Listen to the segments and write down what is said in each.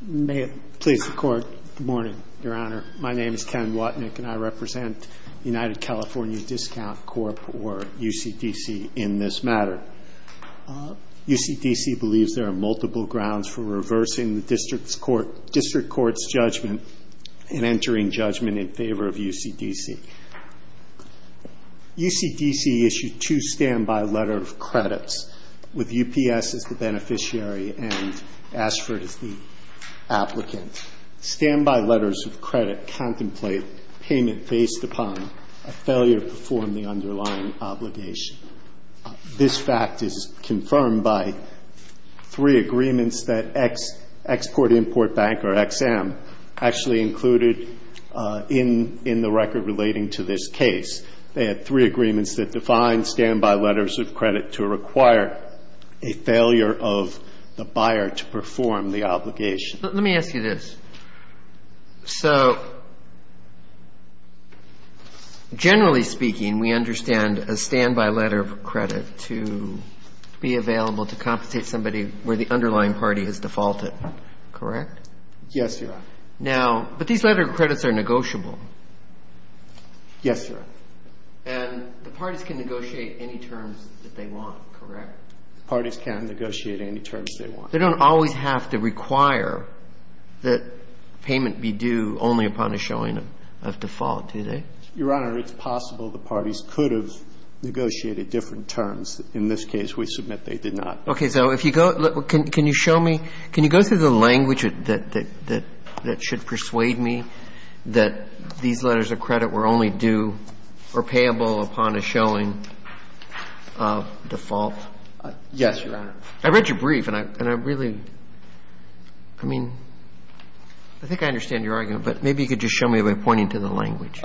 Good morning, Your Honor. My name is Ken Watnick, and I represent the United California Discount Corp, or UCDC, in this matter. UCDC believes there are multiple grounds for reversing the District Court's judgment and entering judgment in favor of UCDC. UCDC issued two standby letter of credits, with UPS as the beneficiary and Ashford as the applicant. Standby letters of credit contemplate payment based upon a failure to perform the underlying obligation. This fact is confirmed by three agreements that Export-Import Bank, or XM, actually included in the record relating to this case. They had three agreements that defined standby letters of credit to require a failure of the buyer to perform the obligation. Let me ask you this. So, generally speaking, we understand a standby letter of credit to be available to compensate somebody where the underlying party has defaulted, correct? Yes, Your Honor. Now, but these letter of credits are negotiable. Yes, Your Honor. And the parties can negotiate any terms that they want, correct? Parties can negotiate any terms they want. They don't always have to require that payment be due only upon a showing of default, do they? Your Honor, it's possible the parties could have negotiated different terms. In this case, we submit they did not. Okay. So if you go – can you show me – can you go through the language that should persuade me that these letters of credit were only due or payable upon a showing of default? Yes, Your Honor. I read your brief and I really – I mean, I think I understand your argument, but maybe you could just show me by pointing to the language.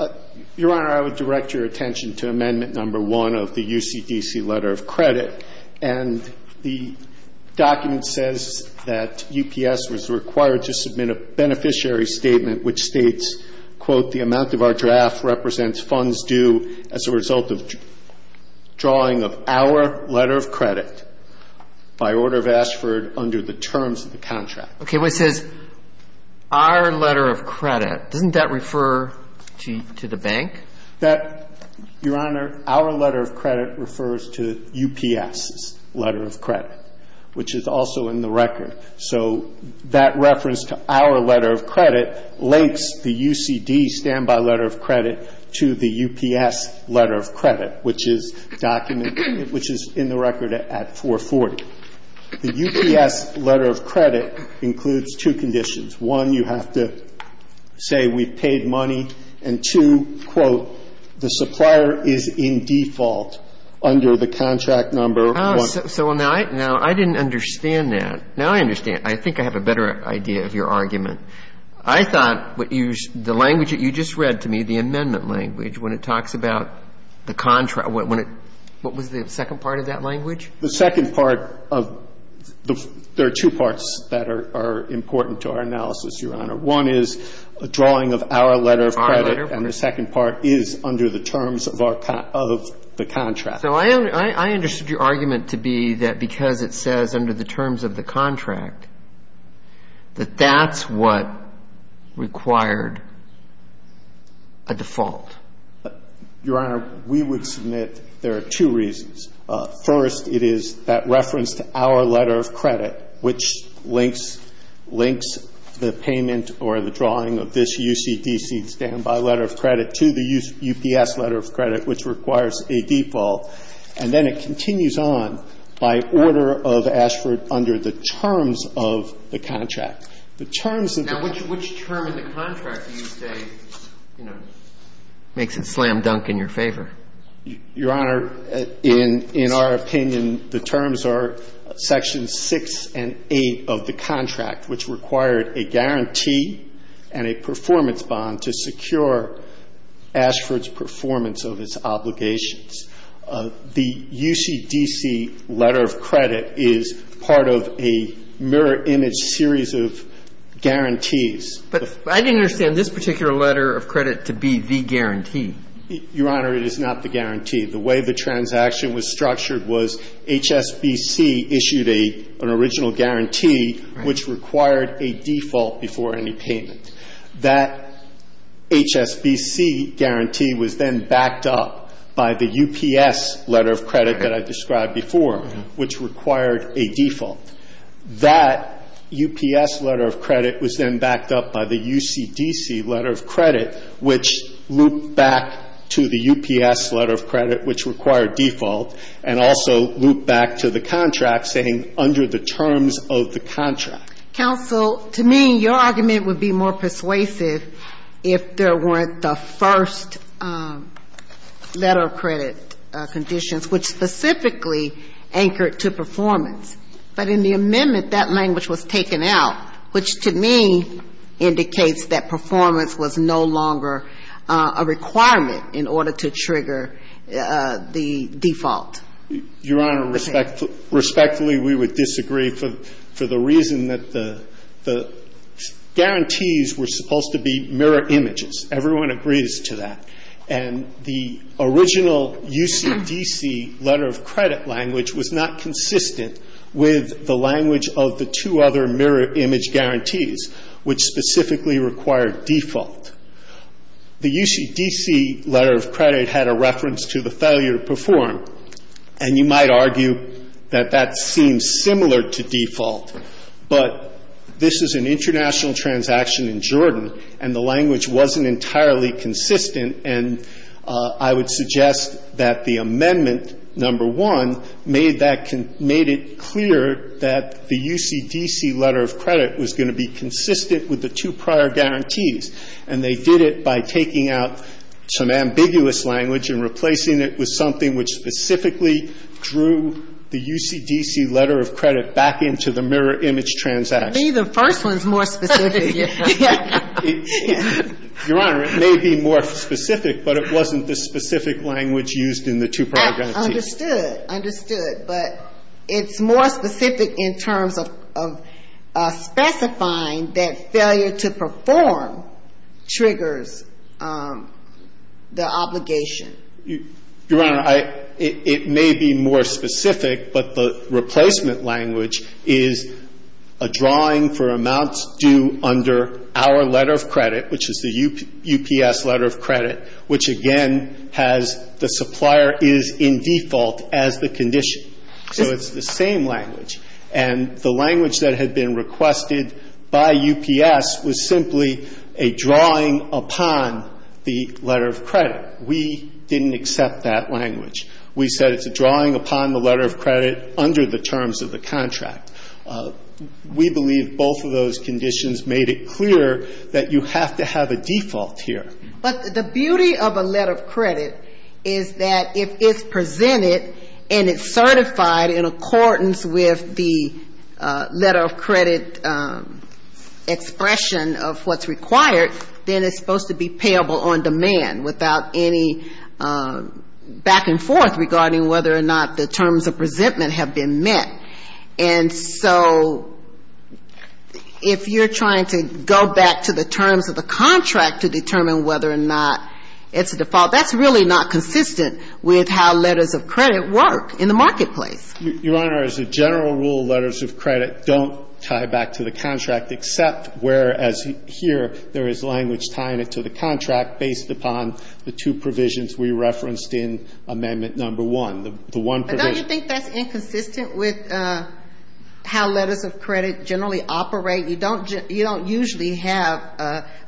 Your Honor, I would direct your attention to Amendment No. 1 of the UCDC letter of credit. And the document says that UPS was required to submit a beneficiary statement which states, quote, Okay. But it says, our letter of credit. Doesn't that refer to the bank? That – Your Honor, our letter of credit refers to UPS's letter of credit, which is also in the record. So that reference to our letter of credit links the UCD statement to the UPS letter of credit. And the UPS letter of credit, which is in the record at 440, the UPS letter of credit includes two conditions. One, you have to say we've paid money. And, two, quote, the supplier is in default under the contract number 1. So now I didn't understand that. Now I understand. I think I have a better idea of your argument. I thought what you – the language that you just read to me, the amendment language, when it talks about the contract, when it – what was the second part of that language? The second part of – there are two parts that are important to our analysis, Your Honor. One is a drawing of our letter of credit. Our letter of credit. And the second part is under the terms of our – of the contract. So I – I understood your argument to be that because it says under the terms of the contract, that that's what required a default. Your Honor, we would submit there are two reasons. First, it is that reference to our letter of credit, which links – links the payment or the drawing of this UCDC standby letter of credit to the UPS letter of credit, which requires a default. And then it continues on by order of Ashford under the terms of the contract. The terms of the – Now, which term in the contract do you say, you know, makes it slam dunk in your favor? Your Honor, in – in our opinion, the terms are sections 6 and 8 of the contract, which required a guarantee and a performance bond to secure Ashford's performance of its obligations. The UCDC letter of credit is part of a mirror image series of guarantees. But I didn't understand this particular letter of credit to be the guarantee. Your Honor, it is not the guarantee. The way the transaction was structured was HSBC issued a – an original guarantee, which required a default before any payment. That HSBC guarantee was then backed up by the UPS letter of credit that I described before, which required a default. That UPS letter of credit was then backed up by the UCDC letter of credit, which looped back to the UPS letter of credit, which required default, and also looped back to the contract, saying under the terms of the contract. Counsel, to me, your argument would be more persuasive if there weren't the first letter of credit conditions, which specifically anchored to performance. But in the amendment, that language was taken out, which to me indicates that performance was no longer a requirement in order to trigger the default. Your Honor, respectfully, we would disagree for the reason that the guarantees were supposed to be mirror images. Everyone agrees to that. And the original UCDC letter of credit language was not consistent with the language of the two other mirror image guarantees, which specifically required default. The UCDC letter of credit had a reference to the failure to perform, and you might argue that that seems similar to default, but this is an international transaction in Jordan, and the language wasn't entirely consistent. And I would suggest that the amendment, number one, made that con — made it clear that the UCDC letter of credit was going to be consistent with the two prior guarantees, and they did it by taking out some ambiguous language and replacing it with something which specifically drew the UCDC letter of credit back into the mirror image transaction. The first one is more specific. Your Honor, it may be more specific, but it wasn't the specific language used in the two prior guarantees. Understood. Understood. But it's more specific in terms of specifying that failure to perform triggers the obligation. Your Honor, I — it may be more specific, but the replacement language is a drawing for amounts due under our letter of credit, which is the UPS letter of credit, which again has the supplier is in default as the condition. So it's the same language. And the language that had been requested by UPS was simply a drawing upon the letter of credit. We didn't accept that language. We said it's a drawing upon the letter of credit under the terms of the contract. We believe both of those conditions made it clear that you have to have a default here. But the beauty of a letter of credit is that if it's presented and it's certified in accordance with the letter of credit expression of what's required, then it's supposed to be payable on demand without any back and forth regarding whether or not the terms of resentment have been met. And so if you're trying to go back to the terms of the contract to determine whether or not it's a default, that's really not consistent with how letters of credit work in the marketplace. Your Honor, as a general rule, letters of credit don't tie back to the contract except whereas here there is language tying it to the contract based upon the two provisions we referenced in Amendment No. 1, the one provision. Don't you think that's inconsistent with how letters of credit generally operate? You don't usually have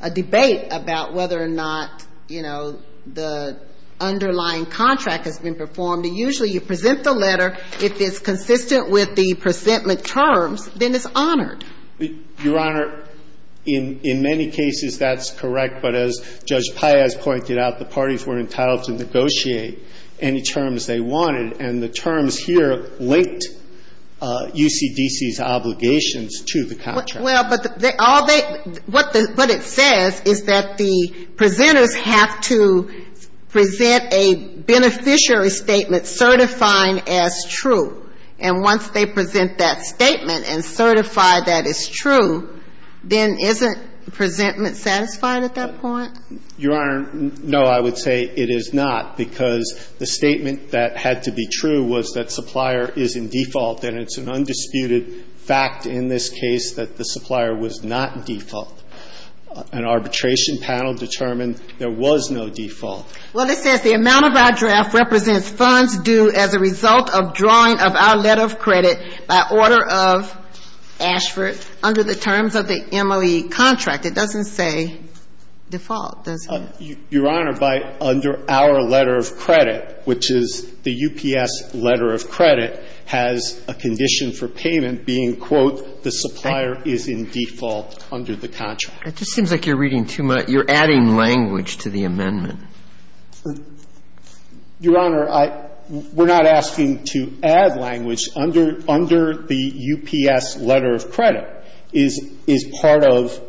a debate about whether or not, you know, the underlying contract has been performed. Usually you present the letter. If it's consistent with the presentment terms, then it's honored. Your Honor, in many cases that's correct. But as Judge Paez pointed out, the parties were entitled to negotiate any terms they wanted. And the terms here linked UCDC's obligations to the contract. Well, but all they – what it says is that the presenters have to present a beneficiary statement certifying as true. And once they present that statement and certify that it's true, then isn't presentment satisfied at that point? Your Honor, no, I would say it is not, because the statement that had to be true was that supplier is in default, and it's an undisputed fact in this case that the supplier was not default. An arbitration panel determined there was no default. Well, it says the amount of our draft represents funds due as a result of drawing of our letter of credit by order of Ashford under the terms of the MLE contract. It doesn't say default, does it? Your Honor, by under our letter of credit, which is the UPS letter of credit, has a condition for payment being, quote, the supplier is in default under the contract. It just seems like you're reading too much. You're adding language to the amendment. Your Honor, I – we're not asking to add language. Under the UPS letter of credit is part of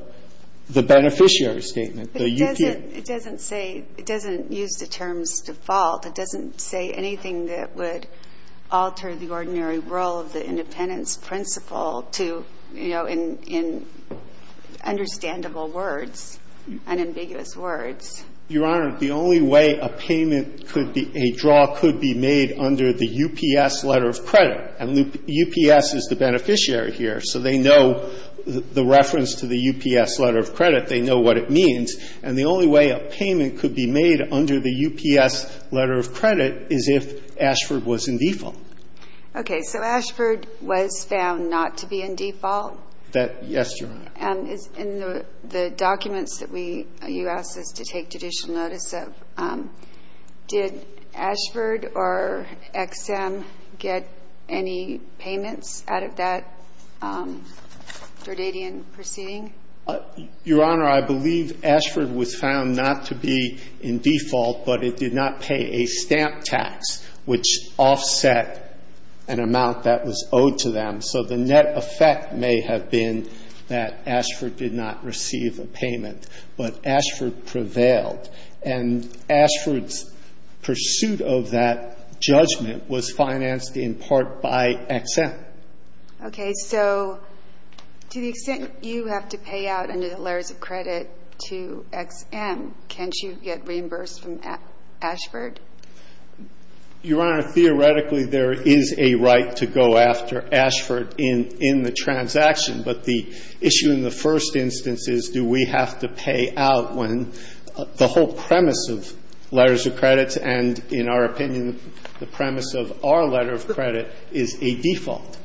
the beneficiary statement, the UPS. It doesn't say – it doesn't use the terms default. It doesn't say anything that would alter the ordinary role of the independence principle to, you know, in understandable words, unambiguous words. Your Honor, the only way a payment could be – a draw could be made under the UPS letter of credit, and UPS is the beneficiary here, so they know the reference to the UPS letter of credit. They know what it means. And the only way a payment could be made under the UPS letter of credit is if Ashford was in default. Okay. So Ashford was found not to be in default? Yes, Your Honor. And in the documents that we – you asked us to take judicial notice of, did Ashford or Ex-Im get any payments out of that Dordadian proceeding? Your Honor, I believe Ashford was found not to be in default, but it did not pay a stamp tax, which offset an amount that was owed to them. So the net effect may have been that Ashford did not receive a payment, but Ashford prevailed. And Ashford's pursuit of that judgment was financed in part by Ex-Im. Okay. So to the extent you have to pay out under the letters of credit to Ex-Im, can't you get reimbursed from Ashford? Your Honor, theoretically, there is a right to go after Ashford in the transaction, but the issue in the first instance is, do we have to pay out when the whole premise of letters of credits and, in our opinion, the premise of our letter of credit is a default?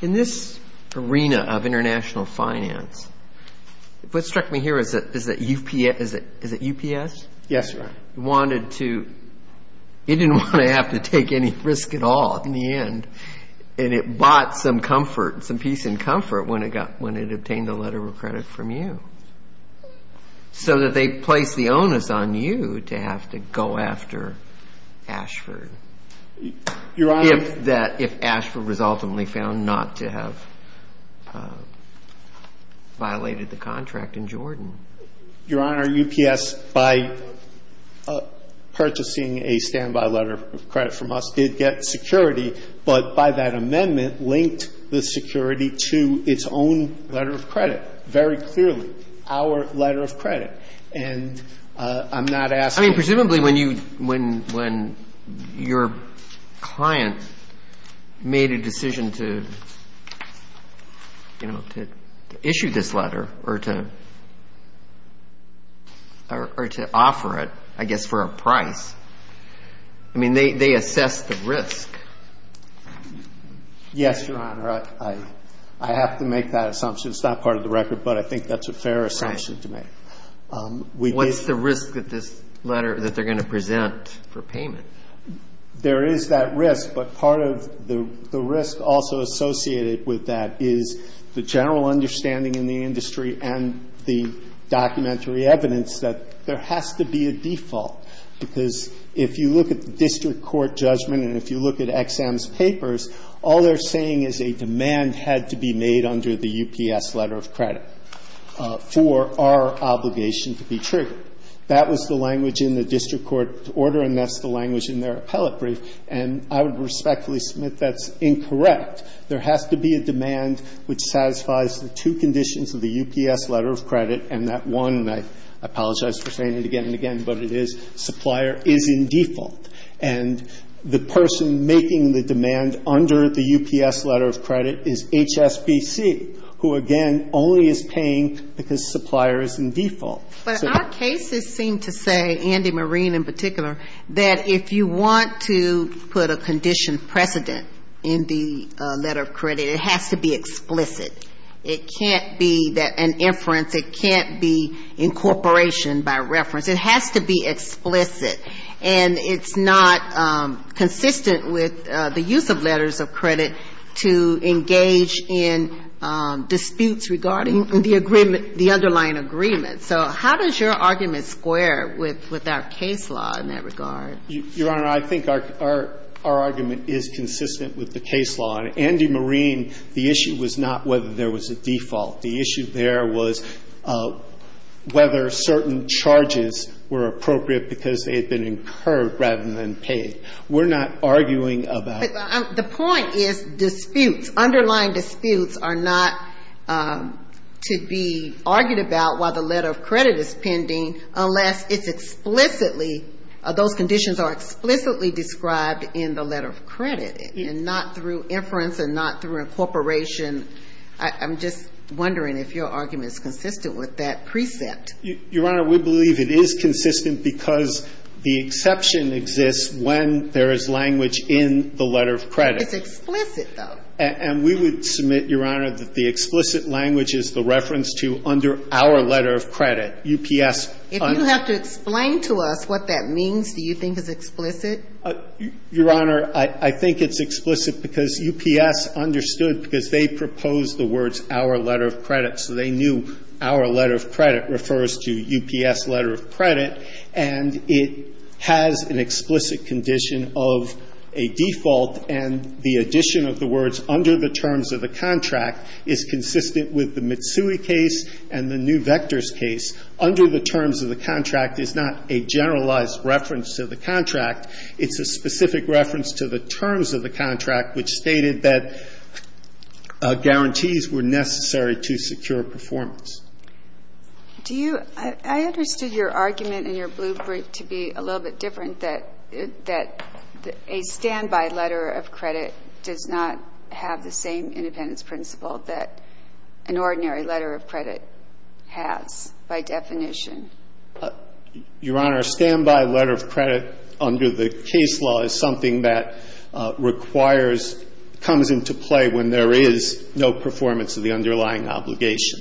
In this arena of international finance, what struck me here is that UPS – is it UPS? Yes, Your Honor. It wanted to – it didn't want to have to take any risk at all in the end, and it bought some comfort, some peace and comfort when it got – when it obtained a letter of credit from you. So that they placed the onus on you to have to go after Ashford. Your Honor – If that – if Ashford was ultimately found not to have violated the contract in Jordan. Your Honor, UPS, by purchasing a standby letter of credit from us, did get security, but by that amendment linked the security to its own letter of credit, very clearly, our letter of credit. And I'm not asking you to – I mean, presumably when you – when your client made a decision to, you know, to issue this letter or to – or to offer it, I guess, for a price, I mean, they assessed the risk. Yes, Your Honor. I have to make that assumption. It's not part of the record, but I think that's a fair assumption to make. What's the risk that this letter – that they're going to present for payment? There is that risk, but part of the risk also associated with that is the general understanding in the industry and the documentary evidence that there has to be a default, because if you look at the district court judgment and if you look at EXAM's papers, all they're saying is a demand had to be made under the UPS letter of credit for our obligation to be triggered. That was the language in the district court order, and that's the language in their appellate brief, and I would respectfully submit that's incorrect. There has to be a demand which satisfies the two conditions of the UPS letter of credit, and that one, and I apologize for saying it again and again, but it is supplier is in default. And the person making the demand under the UPS letter of credit is HSBC, who, again, only is paying because supplier is in default. But our cases seem to say, Andy Marine in particular, that if you want to put a condition precedent in the letter of credit, it has to be explicit. It can't be an inference. It can't be incorporation by reference. It has to be explicit, and it's not consistent with the use of letters of credit to engage in disputes regarding the agreement, the underlying agreement. So how does your argument square with our case law in that regard? Your Honor, I think our argument is consistent with the case law. In Andy Marine, the issue was not whether there was a default. The issue there was whether certain charges were appropriate because they had been incurred rather than paid. We're not arguing about the point is disputes. Underlying disputes are not to be argued about while the letter of credit is pending unless it's explicitly, those conditions are explicitly described in the letter of credit and not through inference and not through incorporation. I'm just wondering if your argument is consistent with that precept. Your Honor, we believe it is consistent because the exception exists when there is language in the letter of credit. It's explicit, though. And we would submit, Your Honor, that the explicit language is the reference to under our letter of credit. UPS. If you have to explain to us what that means, do you think it's explicit? Your Honor, I think it's explicit because UPS understood because they proposed the words our letter of credit. So they knew our letter of credit refers to UPS letter of credit. And it has an explicit condition of a default. And the addition of the words under the terms of the contract is consistent with the Mitsui case and the new vectors case. Under the terms of the contract is not a generalized reference to the contract. It's a specific reference to the terms of the contract which stated that guarantees were necessary to secure performance. Do you – I understood your argument in your blue brief to be a little bit different, that a standby letter of credit does not have the same independence principle that an ordinary letter of credit has by definition? Your Honor, a standby letter of credit under the case law is something that requires – comes into play when there is no performance of the underlying obligation.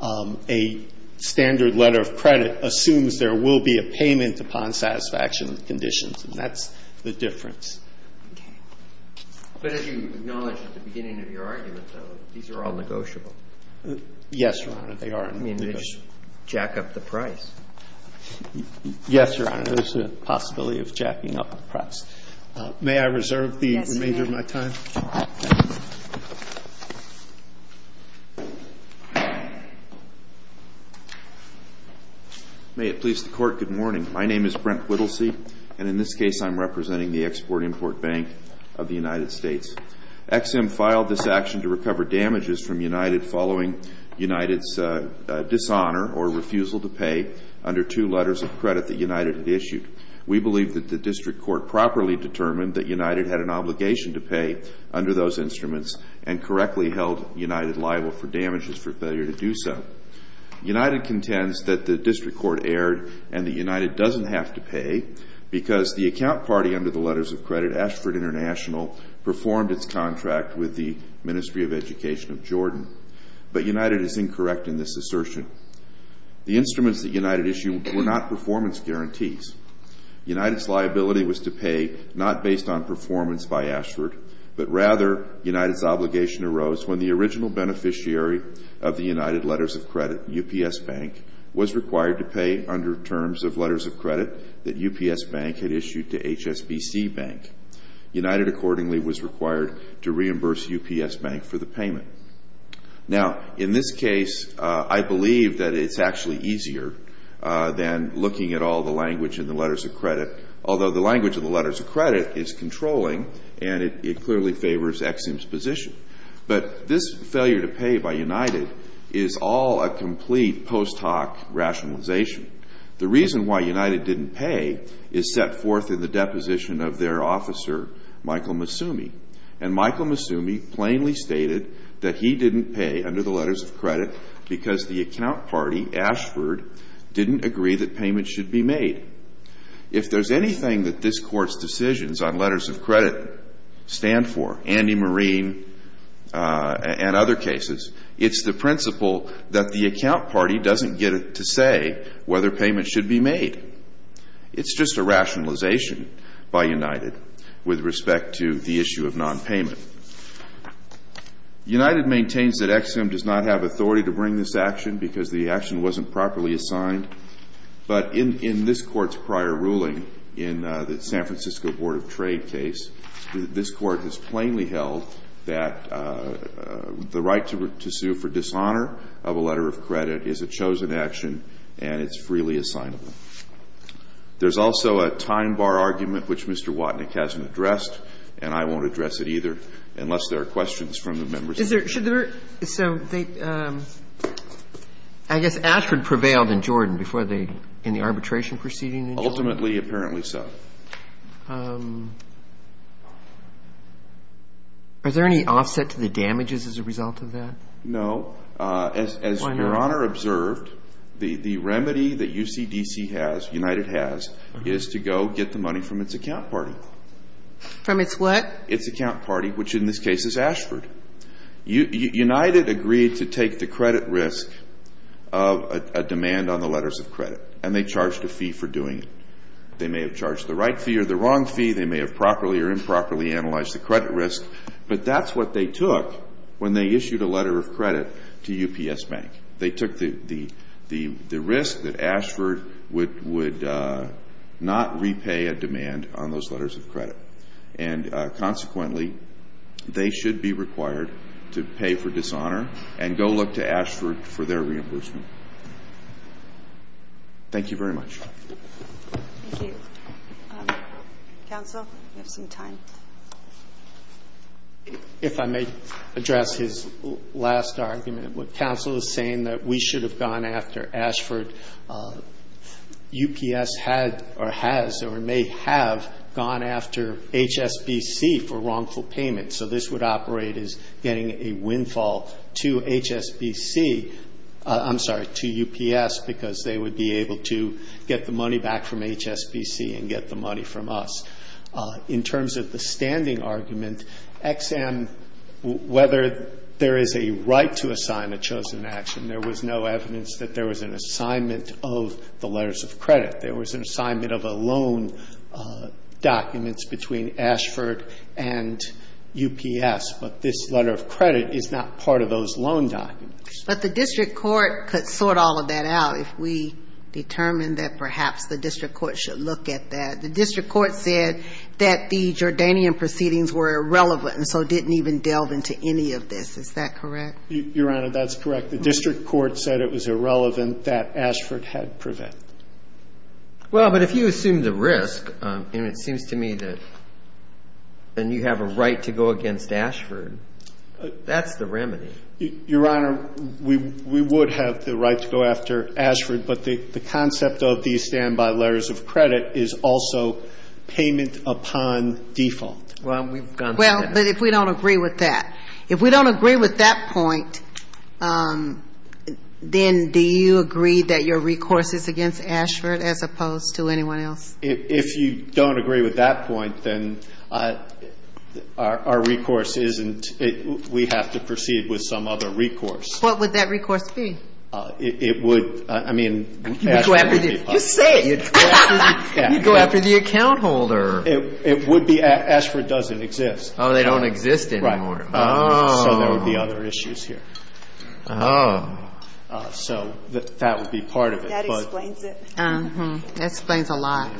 A standard letter of credit assumes there will be a payment upon satisfaction of the conditions. And that's the difference. Okay. But as you acknowledged at the beginning of your argument, though, these are all negotiable. Yes, Your Honor, they are. I mean, they just jack up the price. Yes, Your Honor, there's a possibility of jacking up the price. May I reserve the remainder of my time? Yes, Your Honor. May it please the Court, good morning. My name is Brent Whittlesey, and in this case I'm representing the Export-Import Bank of the United States. EXIM filed this action to recover damages from United following United's dishonor or refusal to pay under two letters of credit that United had issued. We believe that the district court properly determined that United had an obligation to pay under those instruments and correctly held United liable for damages for failure to do so. United contends that the district court erred and that United doesn't have to pay because the account party under the letters of credit, Ashford International, performed its contract with the Ministry of Education of Jordan. But United is incorrect in this assertion. The instruments that United issued were not performance guarantees. United's liability was to pay not based on performance by Ashford, but rather United's obligation arose when the original beneficiary of the United letters of credit, UPS Bank, was required to pay under terms of letters of credit that UPS Bank had issued to HSBC Bank. United accordingly was required to reimburse UPS Bank for the payment. Now, in this case, I believe that it's actually easier than looking at all the language in the letters of credit, although the language in the letters of credit is controlling and it clearly favors EXIM's position. But this failure to pay by United is all a complete post hoc rationalization. The reason why United didn't pay is set forth in the deposition of their officer, Michael Masumi. And Michael Masumi plainly stated that he didn't pay under the letters of credit because the account party, Ashford, didn't agree that payments should be made. If there's anything that this Court's decisions on letters of credit stand for, Andy Marine and other cases, it's the principle that the account party doesn't get to say whether payments should be made. It's just a rationalization by United with respect to the issue of nonpayment. United maintains that EXIM does not have authority to bring this action because the action wasn't properly assigned. But in this Court's prior ruling in the San Francisco Board of Trade case, this Court has plainly held that the right to sue for dishonor of a letter of credit is a chosen action and it's freely assignable. There's also a time bar argument, which Mr. Watnick hasn't addressed, and I won't address it either, unless there are questions from the members. Is there – should there – so they – I guess Ashford prevailed in Jordan before they – in the arbitration proceeding in Jordan? Ultimately, apparently so. Are there any offset to the damages as a result of that? No. As Your Honor observed, the remedy that UCDC has, United has, is to go get the money from its account party. From its what? Its account party, which in this case is Ashford. United agreed to take the credit risk of a demand on the letters of credit, and they charged a fee for doing it. They may have charged the right fee or the wrong fee. They may have properly or improperly analyzed the credit risk. But that's what they took when they issued a letter of credit to UPS Bank. They took the risk that Ashford would not repay a demand on those letters of credit. And consequently, they should be required to pay for dishonor and go look to Ashford for their reimbursement. Thank you very much. Thank you. Counsel? We have some time. If I may address his last argument. When counsel is saying that we should have gone after Ashford, UPS had or has or may have gone after HSBC for wrongful payment. So this would operate as getting a windfall to HSBC – I'm sorry, to UPS, because they would be able to get the money back from HSBC and get the money from us. In terms of the standing argument, Ex-Am, whether there is a right to assign a chosen action, there was no evidence that there was an assignment of the letters of credit. There was an assignment of loan documents between Ashford and UPS. But this letter of credit is not part of those loan documents. But the district court could sort all of that out if we determine that perhaps the district court should look at that. The district court said that the Jordanian proceedings were irrelevant and so didn't even delve into any of this. Is that correct? Your Honor, that's correct. The district court said it was irrelevant that Ashford had prevented. Well, but if you assume the risk, and it seems to me that then you have a right to go against Ashford, that's the remedy. Your Honor, we would have the right to go after Ashford, but the concept of these standby letters of credit is also payment upon default. Well, but if we don't agree with that. If we don't agree with that point, then do you agree that your recourse is against Ashford as opposed to anyone else? If you don't agree with that point, then our recourse isn't. We have to proceed with some other recourse. What would that recourse be? It would, I mean, Ashford would be part of it. You say it. You'd go after the account holder. It would be, Ashford doesn't exist. Oh, they don't exist anymore. Right. Oh. So there would be other issues here. Oh. So that would be part of it. That explains it. That explains a lot.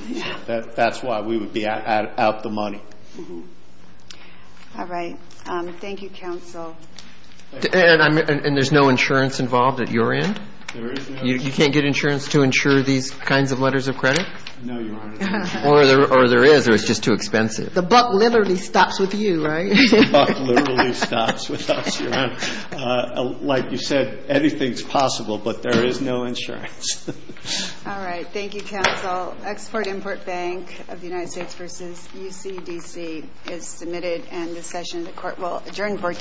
That's why we would be out the money. All right. Thank you, counsel. And there's no insurance involved at your end? There is no. You can't get insurance to insure these kinds of letters of credit? No, Your Honor. Or there is, or it's just too expensive. The buck literally stops with you, right? The buck literally stops with us, Your Honor. Like you said, anything's possible, but there is no insurance. All right. Thank you, counsel. Export-Import Bank of the United States v. UCDC is submitted. And this session, the Court will adjourn for today.